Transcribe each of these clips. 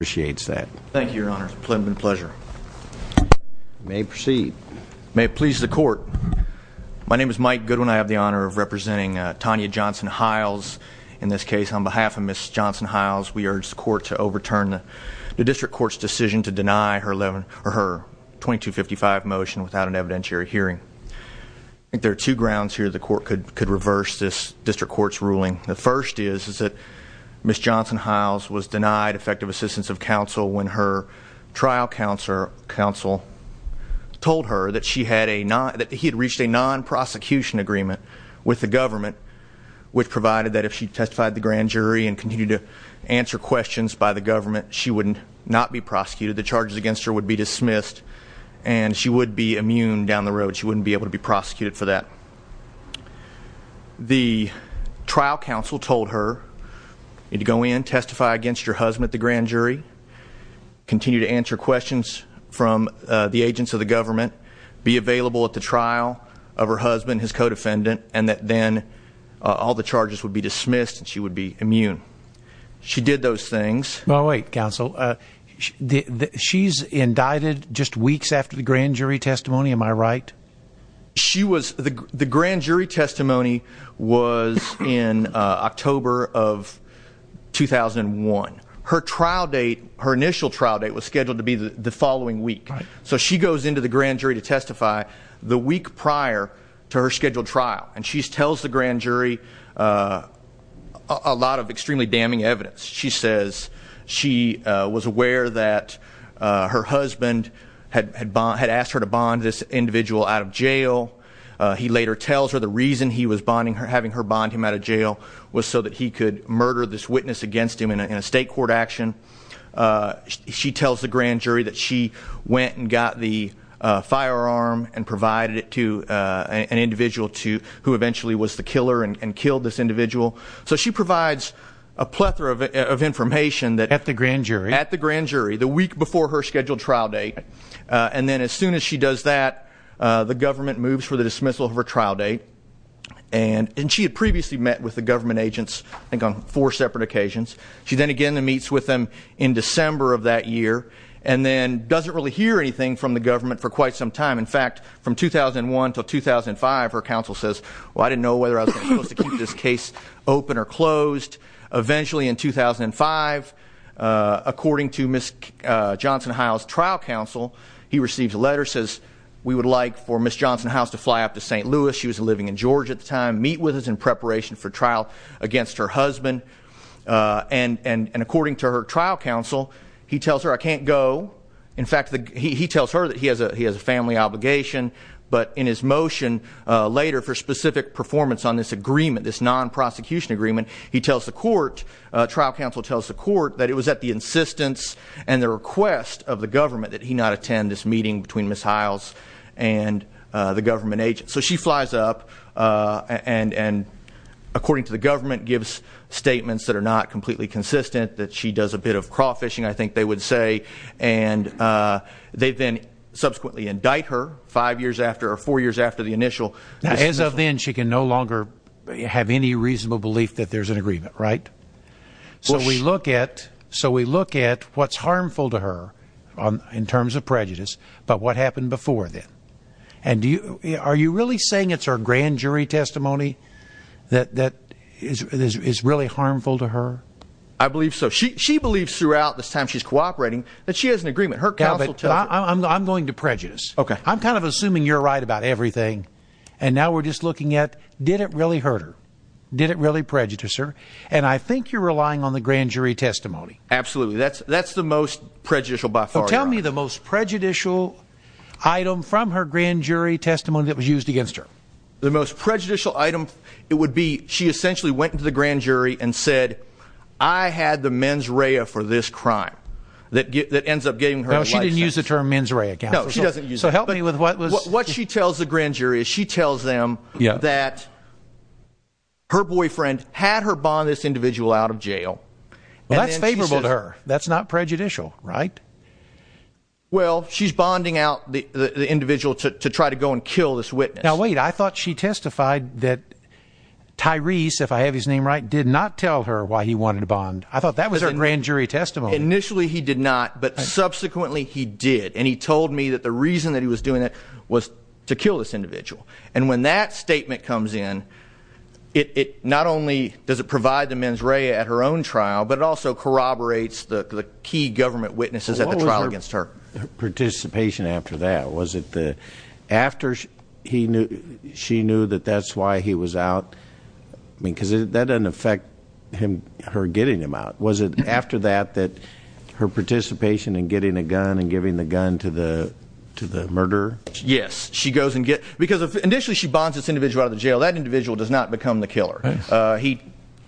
Appreciates that. Thank you, Your Honor. It's a pleasure. You may proceed. May it please the court, my name is Mike Goodwin. I have the honor of representing Tanya Johnson-Hyles in this case. On behalf of Ms. Johnson-Hyles, we urge the court to overturn the district court's decision to deny her 2255 motion without an evidentiary hearing. I think there are two grounds here the court could reverse this district court's ruling. The first is that Ms. Johnson-Hyles was denied effective assistance of counsel when her trial counsel told her that he had reached a non-prosecution agreement with the government which provided that if she testified at the grand jury and continued to answer questions by the government she would not be prosecuted. The charges against her would be dismissed and she would be immune down the road. She wouldn't be able to be prosecuted for that. The trial counsel told her you need to go in, testify against your husband at the grand jury, continue to answer questions from the agents of the government, be available at the trial of her husband, his co-defendant, and that then all the charges would be dismissed and she would be immune. She did those things. Now wait, counsel. She's indicted just weeks after the grand jury testimony, am I right? The grand jury testimony was in October of 2001. Her trial date, her initial trial date was scheduled to be the following week. So she goes into the grand jury to testify the week prior to her scheduled trial and she tells the grand jury a lot of extremely damning evidence. She says she was aware that her husband had asked her to bond this individual out of jail. He later tells her the reason he was having her bond him out of jail was so that he could murder this witness against him in a state court action. She tells the grand jury that she went and got the firearm and provided it to an individual who eventually was the killer and killed this individual. So she provides a plethora of information at the grand jury, the week before her scheduled trial date. And then as soon as she does that, the government moves for the dismissal of her trial date. And she had previously met with the government agents, I think on four separate occasions. She then again meets with them in December of that year and then doesn't really hear anything from the government for quite some time. In fact, from 2001 to 2005 her counsel says, well I didn't know whether I was supposed to keep this case open or closed. Eventually in 2005, according to Ms. Johnson-Hiles' trial counsel, he receives a letter that says we would like for Ms. Johnson-Hiles to fly up to St. Louis. She was living in Georgia at the time. Meet with us in preparation for trial against her husband. And according to her trial counsel, he tells her I can't go. In fact, he tells her that he has a family obligation but in his motion later for specific performance on this agreement, this non-prosecution agreement, he tells the court, trial counsel tells the court, that it was at the insistence and the request of the Ms. Johnson-Hiles and the government agents. So she flies up and according to the government, gives statements that are not completely consistent, that she does a bit of crawfishing, I think they would say and they then subsequently indict her five years after or four years after the initial As of then, she can no longer have any reasonable belief that there's an agreement, right? So we look at what's harmful to her in terms of prejudice, but what happened before then? Are you really saying it's her grand jury testimony that is really harmful to her? I believe so. She believes throughout this time she's cooperating that she has an agreement. I'm going to prejudice. I'm kind of assuming you're right about everything and now we're just looking at, did it really hurt her? Did it really prejudice her? And I think you're relying on the grand jury testimony. Absolutely. That's the most prejudicial by far. So tell me the most prejudicial item from her grand jury testimony that was used against her. The most prejudicial item, it would be, she essentially went to the grand jury and said, I had the mens rea for this crime. That ends up getting her a life sentence. No, she didn't use the term mens rea. No, she doesn't use it. What she tells the grand jury is she tells them that her boyfriend had her bond this individual out of jail and that's favorable to her. That's not prejudicial, right? Well, she's bonding out the individual to try to go and kill this witness. Now, wait, I thought she testified that Tyrese, if I have his name right, did not tell her why he wanted to bond. I thought that was her grand jury testimony. Initially he did not, but subsequently he did. And he told me that the reason that he was doing it was to kill this individual. And when that statement comes in, it not only does it corroborate, but it also corroborates the key government witnesses at the trial against her. What was her participation after that? Was it after she knew that that's why he was out? Because that doesn't affect her getting him out. Was it after that that her participation in getting a gun and giving the gun to the murderer? Yes. She goes and gets, because initially she bonds this individual out of the jail. That individual does not become the killer. He,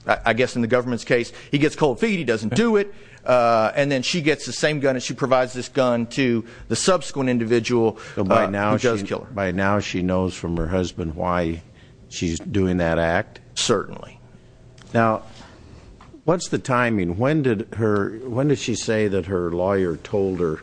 I guess in the government's case, he gets cold feet. He doesn't do it. And then she gets the same gun and she provides this gun to the subsequent individual who does kill her. By now she knows from her husband why she's doing that act? Certainly. Now, what's the timing? When did she say that her lawyer told her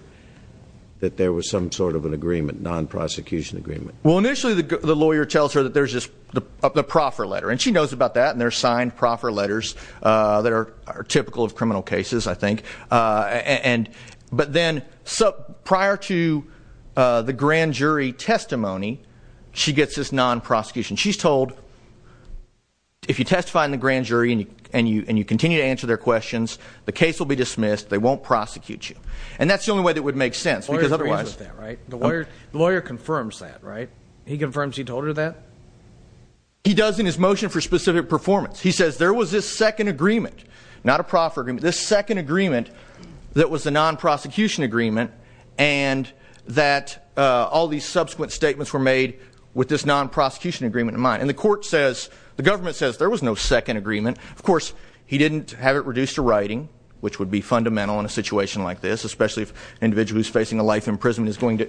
that there was some sort of an agreement, non-prosecution agreement? Well, initially the lawyer tells her that there's just the proffer letter. And she knows about that. And there's signed proffer letters that are typical of criminal cases, I think. But then prior to the grand jury testimony, she gets this non-prosecution. She's told if you testify in the grand jury and you continue to answer their questions, the case will be dismissed. They won't prosecute you. And that's the only way that would make sense. Because otherwise... The lawyer agrees with that, right? The lawyer confirms that, right? He confirms he told her that? He does in his motion for specific performance. He says there was this second agreement. Not a proffer agreement. This second agreement that was the non-prosecution agreement and that all these subsequent statements were made with this non-prosecution agreement in mind. And the court says, the government says there was no second agreement. Of course, he didn't have it reduced to writing, which would be fundamental in a situation like this, especially if an individual who's facing a life imprisonment is going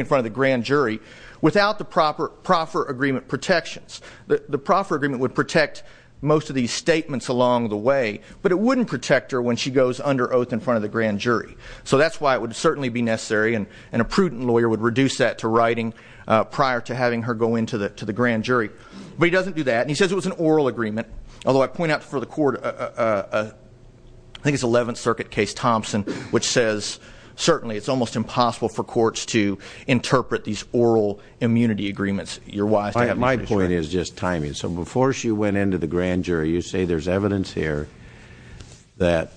in front of the grand jury, without the proffer agreement protections. The proffer agreement would protect most of these statements along the way. But it wouldn't protect her when she goes under oath in front of the grand jury. So that's why it would certainly be necessary. And a prudent lawyer would reduce that to writing prior to having her go into the grand jury. But he doesn't do that. And he says it was an oral agreement. Although I point out for the court I think it's 11th Circuit Case Thompson, which says certainly it's almost impossible for courts to interpret these oral immunity agreements. You're wise to have me finish. My point is just timing. So before she went into the grand jury, you say there's evidence here that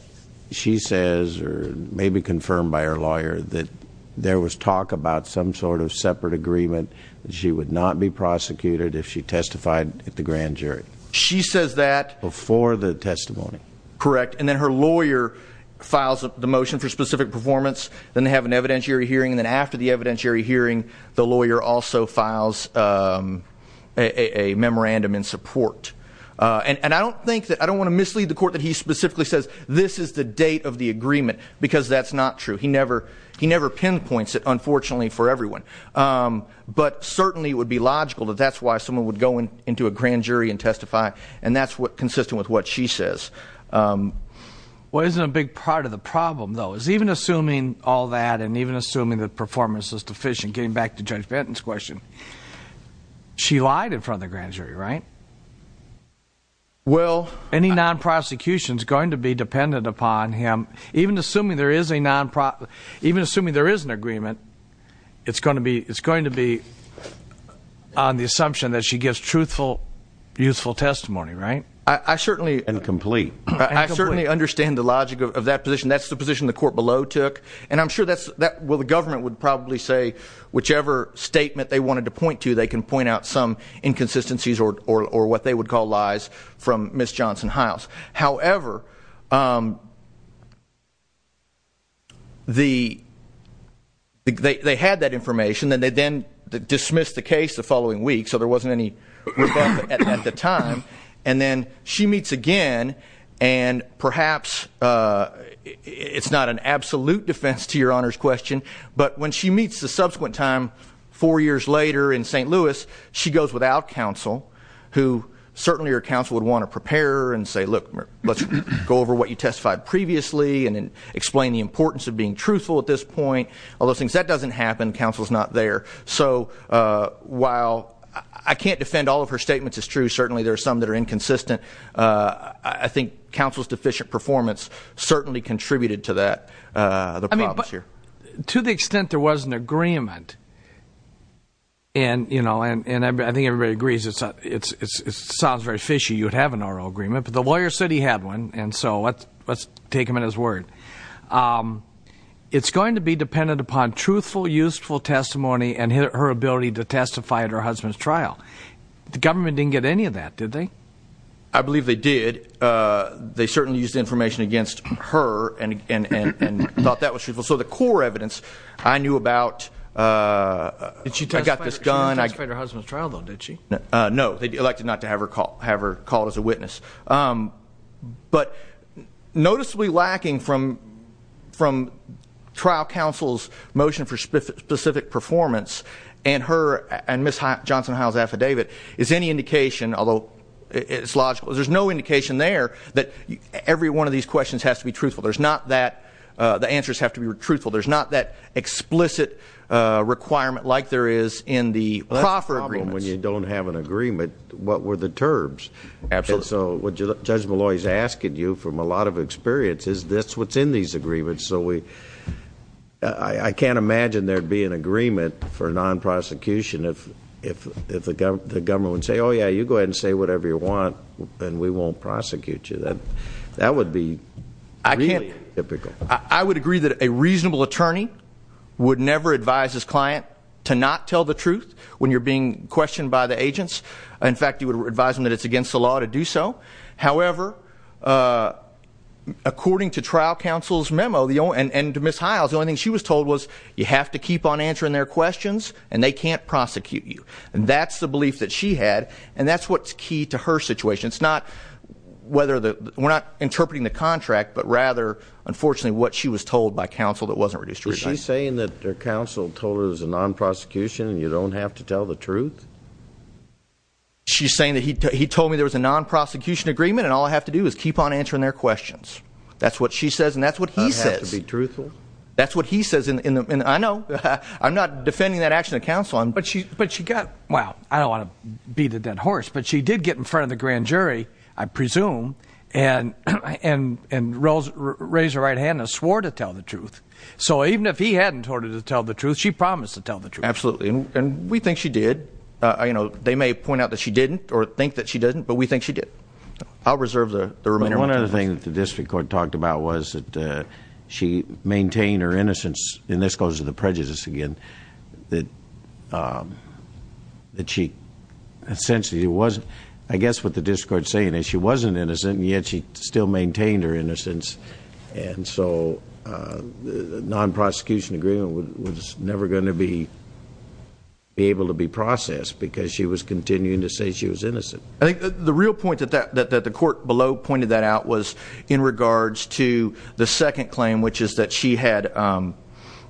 she says, or maybe confirmed by her lawyer, that there was talk about some sort of separate agreement that she would not be prosecuted if she testified at the grand jury. She says that before the testimony. Correct. And then her lawyer files the motion for specific performance. Then they have an evidentiary hearing. And then after the evidentiary hearing the lawyer also files a memorandum in support. And I don't want to mislead the court that he specifically says this is the date of the agreement. Because that's not true. He never pinpoints it, unfortunately, for everyone. But certainly it would be logical that that's why someone would go into a grand jury and testify. And that's consistent with what she says. Well, isn't a big part of the problem, though, is even assuming all that, and even assuming that performance is deficient, getting back to Judge Benton's question, she lied in front of the grand jury, right? Well, any non-prosecution is going to be dependent upon him. Even assuming there is a non-prosecution, even assuming there is an agreement, it's going to be on the assumption that she gives truthful, useful testimony, right? And complete. I certainly understand the logic of that position. That's the position the court below took. And I'm sure that's, well, the government would probably say whichever statement they wanted to point to, they can point out some inconsistencies or what they would call lies from Ms. Johnson-Hiles. However, they had that information, and they then dismissed the case the following week, so there wasn't any doubt at the time. And then she meets again, and perhaps it's not an absolute defense to Your Honor's question, but when she meets the subsequent time, four years later in St. Louis, she goes without counsel, who certainly her counsel would want to prepare her and say, look, let's go over what you testified previously and explain the importance of being truthful at this point, all those things. That doesn't happen. Counsel's not there. So while I can't defend all of her statements as true, certainly there are some that are inconsistent, I think counsel's deficient performance certainly contributed to that, the problems here. I mean, but to the extent there was an agreement, and, you know, and I think everybody agrees it sounds very fishy you would have an oral agreement, but the lawyer said he had one, and so let's take him at his word. It's going to be dependent upon truthful, useful testimony and her ability to testify at her husband's trial. The government didn't get any of that, did they? I believe they did. They certainly used information against her and thought that was truthful. So the core evidence I knew about, I got this done. She testified at her husband's trial, though, did she? No. They elected not to have her called as a witness. But noticeably lacking from trial counsel's motion for specific performance and her, and Ms. Johnson-Howell's affidavit is any indication, although it's logical, there's no indication there that every one of these questions has to be truthful. There's not that the answers have to be truthful. There's not that explicit requirement like there is in the proffer agreements. Well, that's the problem when you don't have an agreement. What were the terms? Absolutely. So what Judge Molloy's asking you, from a lot of experience, is this what's in these agreements? So we I can't imagine there'd be an agreement for non-prosecution if the government would say, oh yeah, you go ahead and say whatever you want and we won't prosecute you. That would be really typical. I would agree that a reasonable attorney would never advise his client to not tell the truth when you're being questioned by the agents. In fact, you would advise them that it's against the law to do so. However, according to trial counsel's memo, and to Ms. Hiles, the only thing she was told was you have to keep on answering their questions and they can't prosecute you. That's the belief that she had, and that's what's key to her situation. It's not whether the, we're not interpreting the contract, but rather, unfortunately what she was told by counsel that wasn't reduced to revising. Is she saying that her counsel told her it was a non-prosecution and you don't have to tell the truth? She's saying that he told me there was a non-prosecution agreement and all I have to do is keep on answering their questions. That's what she says and that's what he says. I have to be truthful? That's what he says. I know. I'm not defending that action of counsel. But she got, well, I don't want to beat a dead horse, but she did get in front of the grand jury, I presume, and raised her right hand and swore to tell the truth. So even if he hadn't ordered her to tell the truth, she promised to tell the truth. Absolutely. And we think she did. They may point out that she didn't or think that she didn't, but we think she did. I'll reserve the remainder of my time. One other thing that the district court talked about was that she maintained her innocence, and this goes to the prejudice again, that she essentially wasn't, I guess what the district court is saying is she wasn't innocent and yet she still maintained her innocence and so the non-prosecution agreement was never going to be able to be processed because she was continuing to say she was innocent. I think the real point that the court below pointed that out was in regards to the second claim, which is that she had,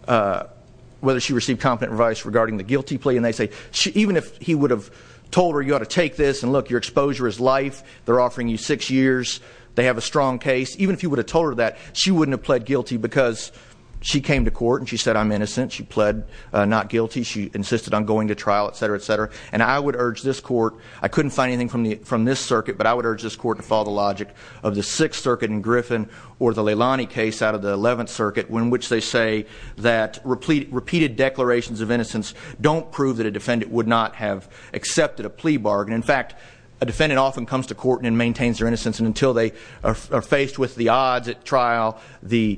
whether she received competent advice regarding the guilty plea, and they say even if he would have told her you ought to take this and look your exposure is life, they're offering you six years, they have a strong case, even if he would have told her that, she wouldn't have pled guilty because she came to court and she said I'm innocent, she pled not guilty, she insisted on going to trial, etc., etc., and I would urge this court, I couldn't find anything from this circuit, but I would urge this court to follow the logic of the Sixth Circuit in Griffin or the Leilani case out of the Eleventh Circuit in which they say that repeated declarations of innocence don't prove that a defendant would not have accepted a plea bargain. In fact, a defendant often comes to court and maintains their innocence and until they are faced with the odds at trial, the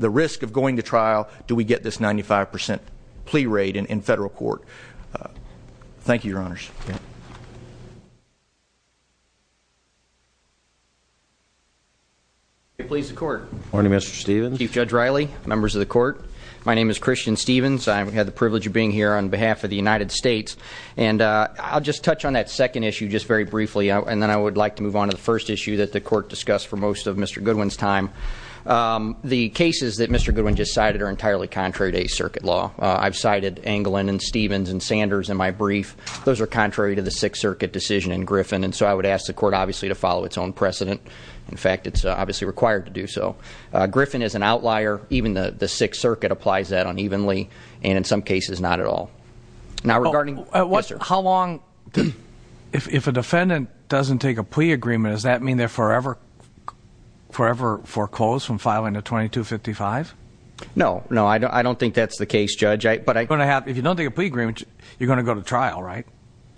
risk of going to trial, do we get this 95% plea rate in federal court? Thank you, Your Honors. Good morning, Mr. Stevens. Chief Judge Riley, members of the court, my name is Christian Stevens, I've had the privilege of being here on behalf of the United States, and I'll just touch on that second issue just very briefly and then I would like to move on to the first issue that the court discussed for most of Mr. Goodwin's time. The cases that Mr. Goodwin just cited are entirely contrary to Eighth Circuit law. I've cited Anglin and Stevens and Sanders in my brief, those are contrary to the Sixth Circuit decision in Griffin, and so I would ask the court obviously to follow its own precedent. In fact, it's obviously required to do so. Griffin is an outlier, even the Sixth Circuit applies that unevenly and in some cases not at all. Now, regarding, how long If a defendant doesn't take a plea agreement, does that mean they're forever foreclosed from filing a 2255? No, no, I don't think that's the case, Judge. If you don't take a plea agreement, you're going to go to trial, right?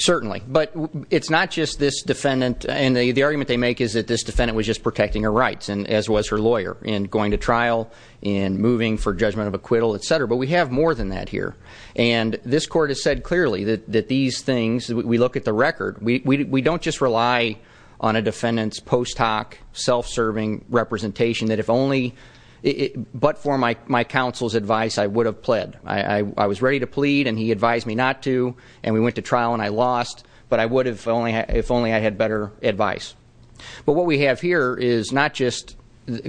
Certainly, but it's not just this defendant, and the argument they make is that this defendant was just protecting her rights, as was her lawyer, in going to trial, in moving for judgment of acquittal, etc. But we have more than that here, and this court has said clearly that these things, we look at the record, we don't just rely on a defendant's post hoc, self-serving representation that if only, but for my counsel's advice, I would have pled. I was ready to plead, and he advised me not to, and we went to trial and I lost, but if only I had better advice. But what we have here is not just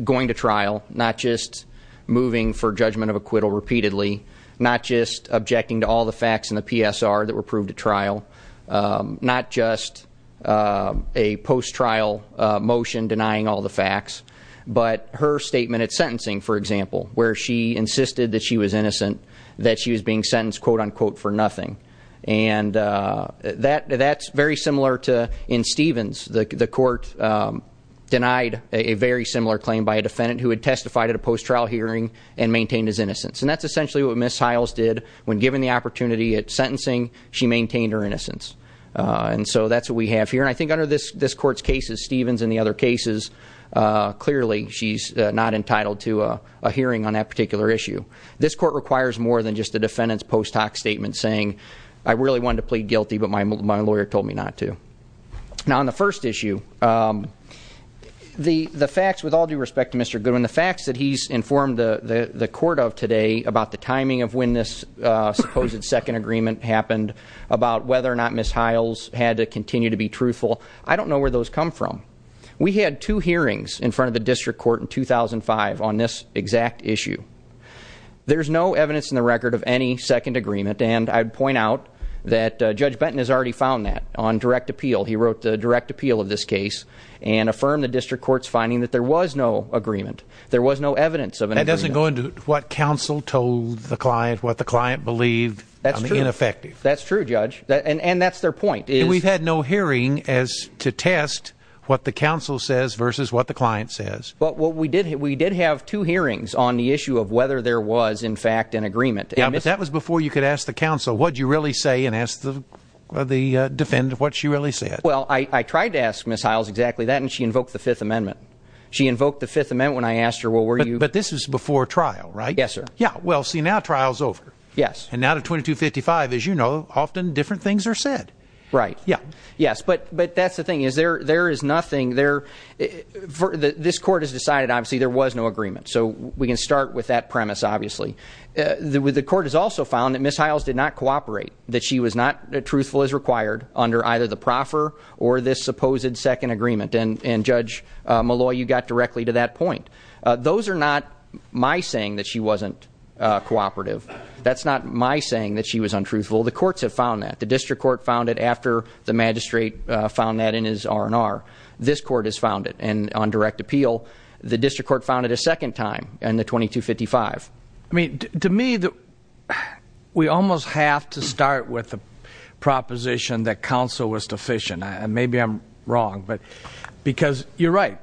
going to trial, not just moving for judgment of acquittal repeatedly, not just objecting to all the facts in the PSR that were proved at trial, not just a post-trial motion denying all the facts, but her statement at sentencing, for example, where she insisted that she was innocent, that she was being sentenced, quote-unquote, for nothing. And that's very similar to in Stevens, the court denied a very similar claim by a defendant who had testified at a post-trial hearing and maintained his innocence. And that's essentially what Ms. Hiles did, when given the opportunity at sentencing, she maintained her innocence. And so that's what we have here, and I think under this clearly, she's not entitled to a hearing on that particular issue. This court requires more than just a defendant's post-hoc statement saying I really wanted to plead guilty, but my lawyer told me not to. Now, on the first issue, the facts, with all due respect to Mr. Goodwin, the facts that he's informed the court of today about the timing of when this supposed second agreement happened, about whether or not Ms. Hiles had to continue to be truthful, I don't know where those come from. We had two hearings in front of the district court in 2005 on this exact issue. There's no evidence in the record of any second agreement, and I'd point out that Judge Benton has already found that on direct appeal. He wrote the direct appeal of this case and affirmed the district court's finding that there was no agreement. There was no evidence of an agreement. That doesn't go into what counsel told the client, what the client believed on the ineffective. That's true, Judge. And that's their point. And we've had no hearing as to test what the counsel says versus what the client says. But we did have two hearings on the issue of whether there was, in fact, an agreement. Yeah, but that was before you could ask the counsel, what'd you really say, and ask the defendant what she really said. Well, I tried to ask Ms. Hiles exactly that, and she invoked the Fifth Amendment. She invoked the Fifth Amendment when I asked her, well, were you... But this was before trial, right? Yes, sir. Yeah, well, see, now trial's over. Yes. And now to 2255, as you know, often different things are said. Right. Yeah. Yes, but that's the thing. There is nothing there... This court has decided, obviously, there was no agreement. So we can start with that premise, obviously. The court has also found that Ms. Hiles did not cooperate, that she was not truthful as required under either the proffer or this supposed second agreement. And, Judge Malloy, you got directly to that point. Those are not my saying that she wasn't cooperative. That's not my saying that she was untruthful. The courts have found that. The district court found it after the magistrate found that in his R&R. This court has found it. And on direct appeal, the district court found it a second time in the 2255. I mean, to me, we almost have to start with the proposition that counsel was deficient. Maybe I'm wrong, but... Because you're right.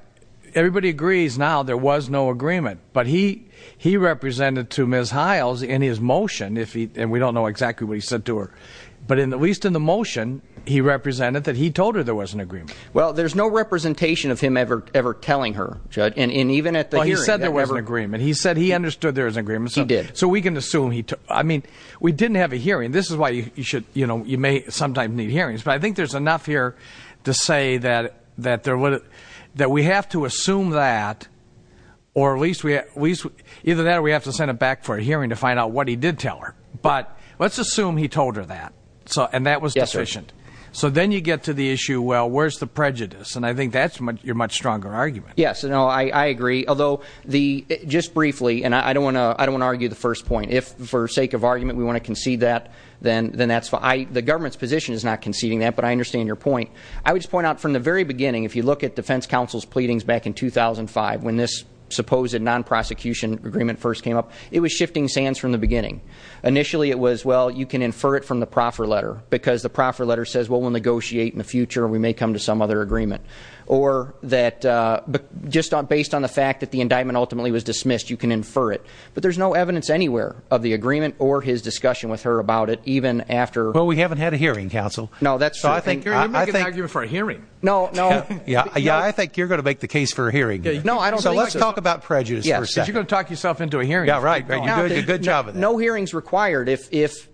Everybody agrees now there was no agreement. But he represented to Ms. Hiles in his motion. And we don't know exactly what he said to her. But at least in the motion, he represented that he told her there was an agreement. Well, there's no representation of him ever telling her, Judge. He said there was an agreement. He said he understood there was an agreement. He did. So we can assume... I mean, we didn't have a hearing. This is why you may sometimes need hearings. But I think there's enough here to say that we have to assume that, or at least either that or we have to send him back for a hearing to find out what he did tell her. But let's assume he told her that. And that was deficient. So then you get to the issue, well, where's the prejudice? And I think that's your much stronger argument. Yes, I agree. Although, just briefly, and I don't want to argue the first point. If, for sake of argument, we want to concede that, then that's fine. The government's position is not conceding that, but I understand your point. I would just point out from the very beginning, if you look at defense counsel's pleadings back in 2005 when this supposed non-prosecution agreement first came up, it was shifting sands from the beginning. Initially it was, well, you can infer it from the proffer letter because the proffer letter says, well, we'll negotiate in the future and we may come to some other agreement. Or that, just based on the fact that the indictment ultimately was dismissed, you can infer it. But there's no evidence anywhere of the agreement or his discussion with her about it, even after... Well, we haven't had a hearing, counsel. No, that's true. Gary, you're making an argument for a hearing. No, no. Yeah, I think you're going to make the case for a hearing. So let's talk about prejudice for a second. You're going to talk yourself into a hearing. Yeah, right. You're doing a good job of that. No hearing's required if...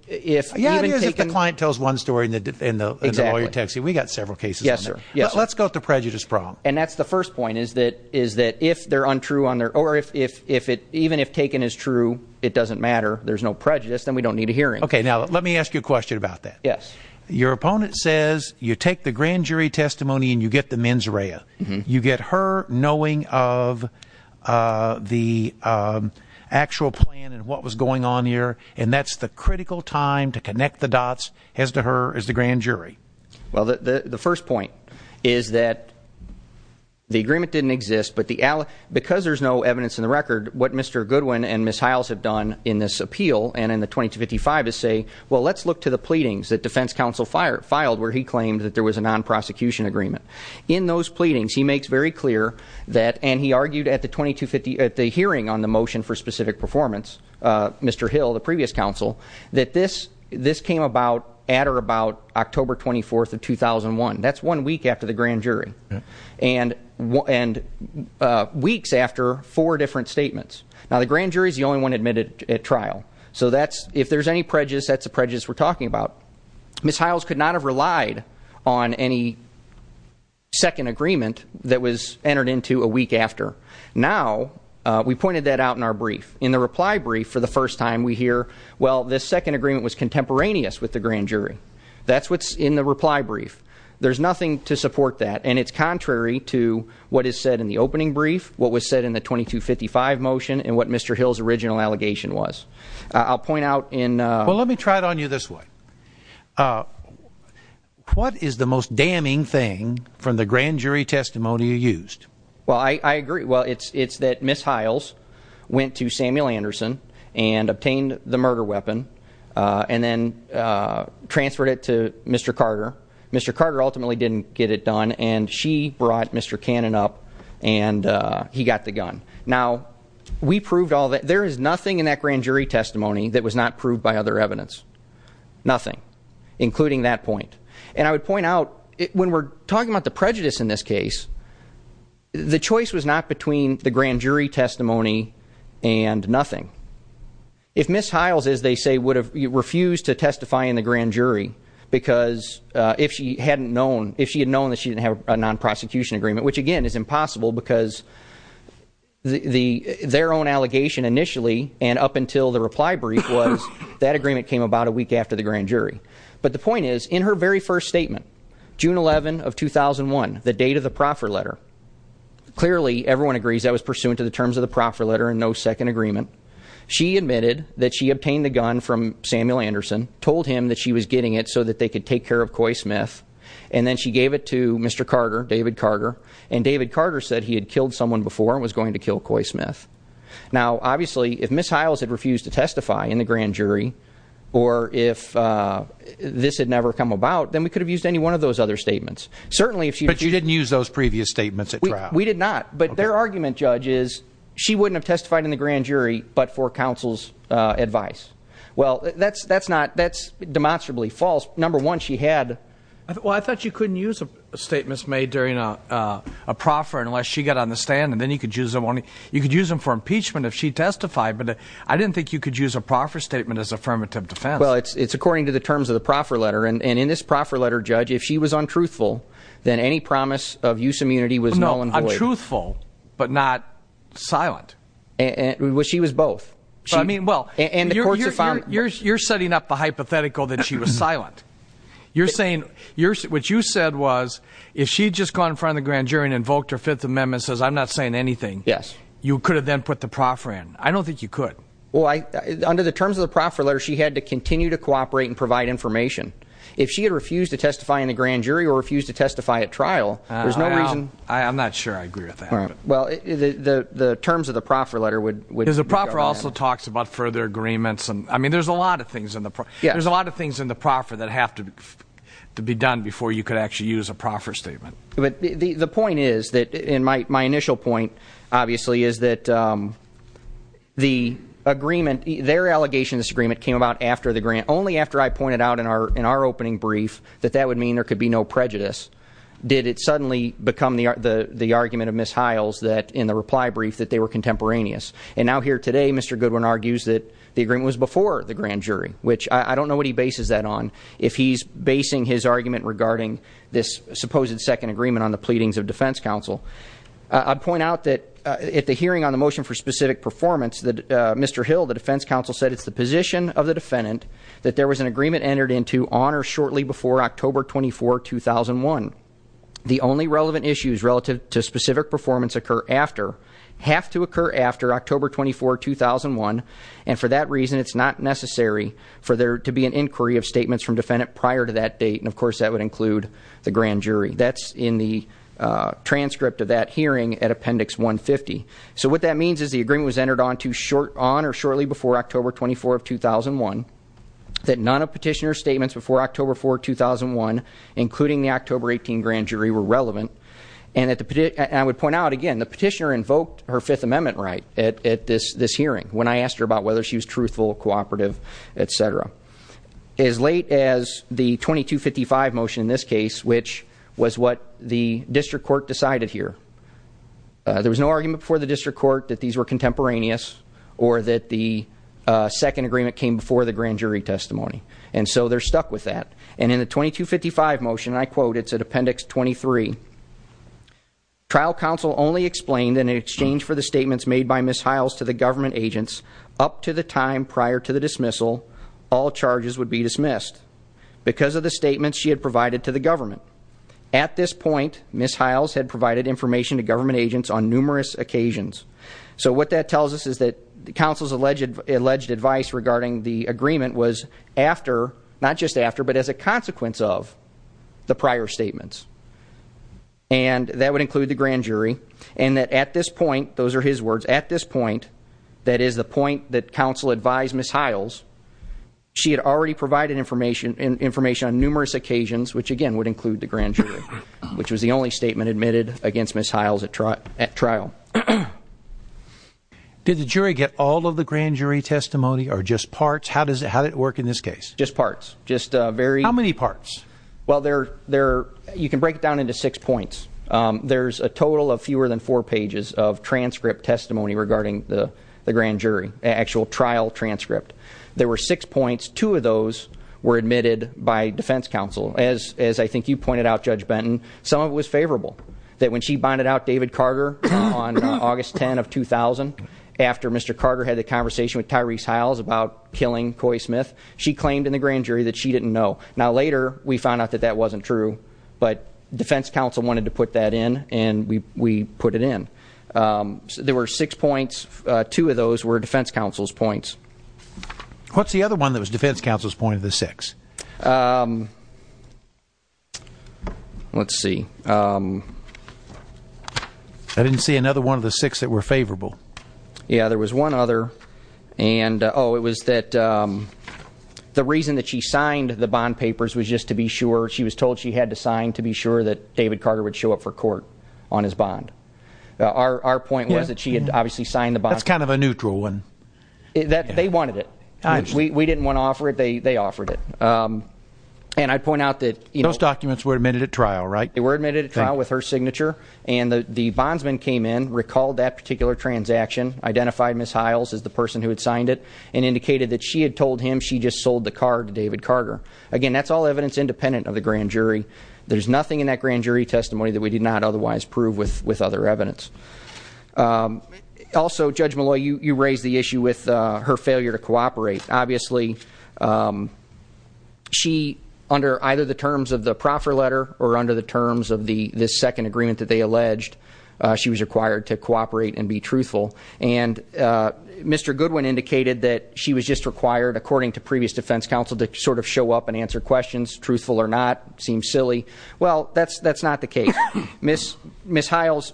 Yeah, it is if the client tells one story and the lawyer texts you. We've got several cases on that. Let's go to the prejudice problem. And that's the first point, is that if they're untrue or even if taken as true, it doesn't matter, there's no prejudice, then we don't need a hearing. Okay, now let me ask you a question about that. Your opponent says you take the grand jury testimony and you get the mens rea. You get her knowing of the actual plan and what was going on here, and that's the critical time to connect the dots as to her as the grand jury. Well, the first point is that the agreement didn't exist, but because there's no evidence in the record, what Mr. Goodwin and Ms. Hiles have done in this appeal and in the 2255 is say, well, let's look to the pleadings that defense counsel filed where he claimed that there was a non-prosecution agreement. In those pleadings, he makes very clear that, and he argued at the hearing on the motion for specific performance, Mr. Hill, the previous counsel, that this came about at or about October 24th of 2001. That's one week after the grand jury. And weeks after four different statements. Now, the grand jury's the only one admitted at trial. So if there's any prejudice, that's the prejudice we're talking about. Ms. Hiles could not have relied on any second agreement that was entered into a week after. Now, we pointed that out in our brief. In the reply brief, for the first time, we hear, well, this second agreement was contemporaneous with the grand jury. That's what's in the reply brief. There's nothing to support that, and it's contrary to what is said in the opening brief, what was said in the 2255 motion, and what Mr. Hill's original allegation was. I'll point out in... Well, let me try it on you this way. What is the most damning thing from the grand jury testimony you used? Well, I agree. Well, it's that Ms. Hiles went to Samuel Anderson and obtained the murder weapon, and then transferred it to Mr. Carter. Mr. Carter ultimately didn't get it done, and she brought Mr. Cannon up, and he got the gun. Now, we don't have any evidence in the grand jury testimony that was not proved by other evidence. Nothing. Including that point. And I would point out, when we're talking about the prejudice in this case, the choice was not between the grand jury testimony and nothing. If Ms. Hiles, as they say, would have refused to testify in the grand jury, because if she had known that she didn't have a non-prosecution agreement, which again is impossible, because their own allegation initially, and up until the reply brief, was that agreement came about a week after the grand jury. But the point is, in her very first statement, June 11 of 2001, the date of the proffer letter, clearly everyone agrees that was pursuant to the terms of the proffer letter and no second agreement. She admitted that she obtained the gun from Samuel Anderson, told him that she was getting it so that they could take care of Coy Smith, and then she gave it to Mr. Carter, David Carter, and David Carter said he had killed someone before and was going to kill Coy Smith. Now, obviously, if Ms. Hiles had refused to testify in the grand jury, or if this had never come about, then we could have used any one of those other statements. Certainly if she... But you didn't use those previous statements at trial. We did not. But their argument, Judge, is she wouldn't have testified in the grand jury but for counsel's advice. Well, that's demonstrably false. Number one, she had... Well, I thought you couldn't use statements made during a proffer unless she got on the stand and then you could use them for impeachment if she testified but I didn't think you could use a proffer statement as affirmative defense. Well, it's according to the terms of the proffer letter and in this proffer letter, Judge, if she was untruthful then any promise of use immunity was null and void. No, untruthful but not silent. Well, she was both. I mean, well, you're setting up the hypothetical that she was what you said was, if she had just gone in front of the grand jury and invoked her Fifth Amendment and says, I'm not saying anything, you could have then put the proffer in. I don't think you could. Well, under the terms of the proffer letter, she had to continue to cooperate and provide information. If she had refused to testify in the grand jury or refused to testify at trial, there's no reason... I'm not sure I agree with that. The terms of the proffer letter would... Because the proffer also talks about further agreements. I mean, there's a lot of things in the proffer that have to be done before you could actually use a proffer statement. The point is, and my initial point, obviously, is that the agreement, their allegation this agreement came about after the grant, only after I pointed out in our opening brief that that would mean there could be no prejudice, did it suddenly become the argument of Ms. Hiles that, in the reply brief, that they were contemporaneous. And now here today, Mr. Goodwin argues that the agreement was before the grand jury which I don't know what he bases that on, if he's basing his argument regarding this supposed second agreement on the pleadings of defense counsel. I'd point out that at the hearing on the motion for specific performance, Mr. Hill, the defense counsel, said it's the position of the defendant that there was an agreement entered into on or shortly before October 24, 2001. The only relevant issues relative to specific performance occur after have to occur after October 24, 2001, and for that reason it's not necessary for there to be an inquiry of statements from defendant prior to that date, and of course that would include the grand jury. That's in the transcript of that hearing at appendix 150. So what that means is the agreement was entered on or shortly before October 24, 2001 that none of petitioner's statements before October 4, 2001 including the October 18 grand jury were relevant, and I would point out again, the petitioner invoked her Fifth Amendment right at this hearing when I asked her about whether she was truthful, cooperative, etc. As late as the 2255 motion in this case which was what the district court decided here. There was no argument before the district court that these were contemporaneous or that the second agreement came before the grand jury testimony. And so they're stuck with that. And in the 2255 motion, and I quote, it's at appendix 23, trial counsel only explained in her testimony to the government agents up to the time prior to the dismissal all charges would be dismissed because of the statements she had provided to the government. At this point, Ms. Hiles had provided information to government agents on numerous occasions. So what that tells us is that counsel's alleged advice regarding the agreement was after not just after, but as a consequence of the prior statements. And that would include the grand jury, and that at this point those are his words, at this point, that is the point that counsel advised Ms. Hiles, she had already provided information on numerous occasions, which again would include the grand jury, which was the only statement admitted against Ms. Hiles at trial. Did the jury get all of the grand jury testimony or just parts? How did it work in this case? Just parts. How many parts? Well, you can break it down into six points. There's a total of fewer than four pages of transcript testimony regarding the grand jury, actual trial transcript. There were six points. Two of those were admitted by defense counsel. As I think you pointed out, Judge Benton, some of it was favorable. That when she bonded out David Carter on August 10 of 2000, after Mr. Carter had the conversation with Tyrese Hiles about killing Coy Smith, she claimed in the grand jury that she didn't know. Now later, we found out that that wasn't true, but defense counsel wanted to put that in, and we put it in. There were six points. Two of those were defense counsel's points. What's the other one that was defense counsel's point of the six? Let's see. I didn't see another one of the six that were favorable. Yeah, there was one other. Oh, it was that the reason that she signed the bond papers was just to be sure. She was told she had to sign to be sure that David Carter would show up for court on his bond. Our point was that she had obviously signed the bond papers. That's kind of a neutral one. They wanted it. We didn't want to offer it. They offered it. Those documents were admitted at trial, right? They were admitted at trial with her signature, and the bondsman came in, recalled that particular transaction, identified Ms. Hiles as the person who had signed it, and indicated that she had told him she just sold the car to David Carter. Again, that's all evidence independent of the grand jury. There's nothing in that grand jury testimony that we did not otherwise prove with other evidence. Also, Judge Molloy, you raised the issue with her failure to cooperate. Obviously, she under either the terms of the proffer letter or under the terms of the second agreement that they alleged, she was required to cooperate and be truthful. And Mr. Goodwin indicated that she was just required, according to previous defense counsel, to sort of show up and answer questions, truthful or not. Seems silly. Well, that's not the case. Ms. Hiles,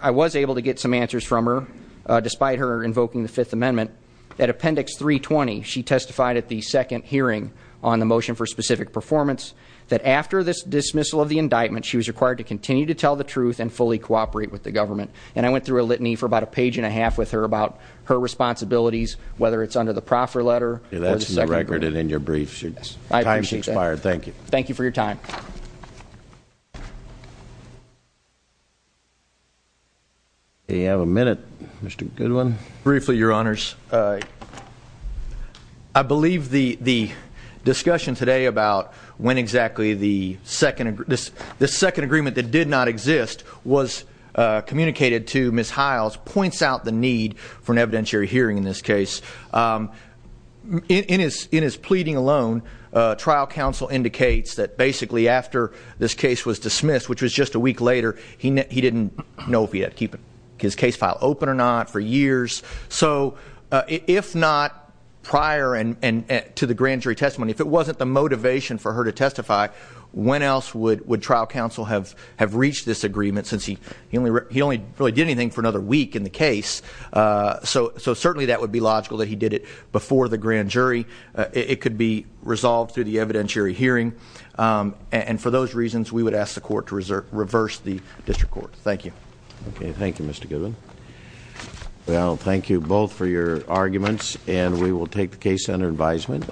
I was able to get some answers from her, despite her invoking the Fifth Amendment. At Appendix 320, she testified at the second hearing on the motion for specific performance that after this dismissal of the indictment, she was required to continue to tell the truth and fully cooperate with the government. And I went through a litany for about a page and a half with her about her responsibilities, whether it's under the proffer letter or the second agreement. Thank you for your time. Do you have a minute, Mr. Goodwin? Briefly, Your Honors. I believe the discussion today about when exactly the second agreement that did not exist was communicated to Ms. Hiles points out the need for an evidentiary hearing in this case. In his pleading alone, trial counsel indicates that basically after this case was dismissed, which was just a week later, he didn't know if he had to keep his case file open or not for years. If not prior to the grand jury testimony, if it wasn't the motivation for her to testify, when else would trial counsel have reached this agreement, since he only really did anything for another week in the case. So certainly that would be logical that he did it before the grand jury. It could be resolved through the evidentiary hearing. And for those reasons, we would ask the court to reverse the district court. Thank you. Okay, thank you, Mr. Goodwin. Well, thank you both for your arguments, and we will take the case under advisement.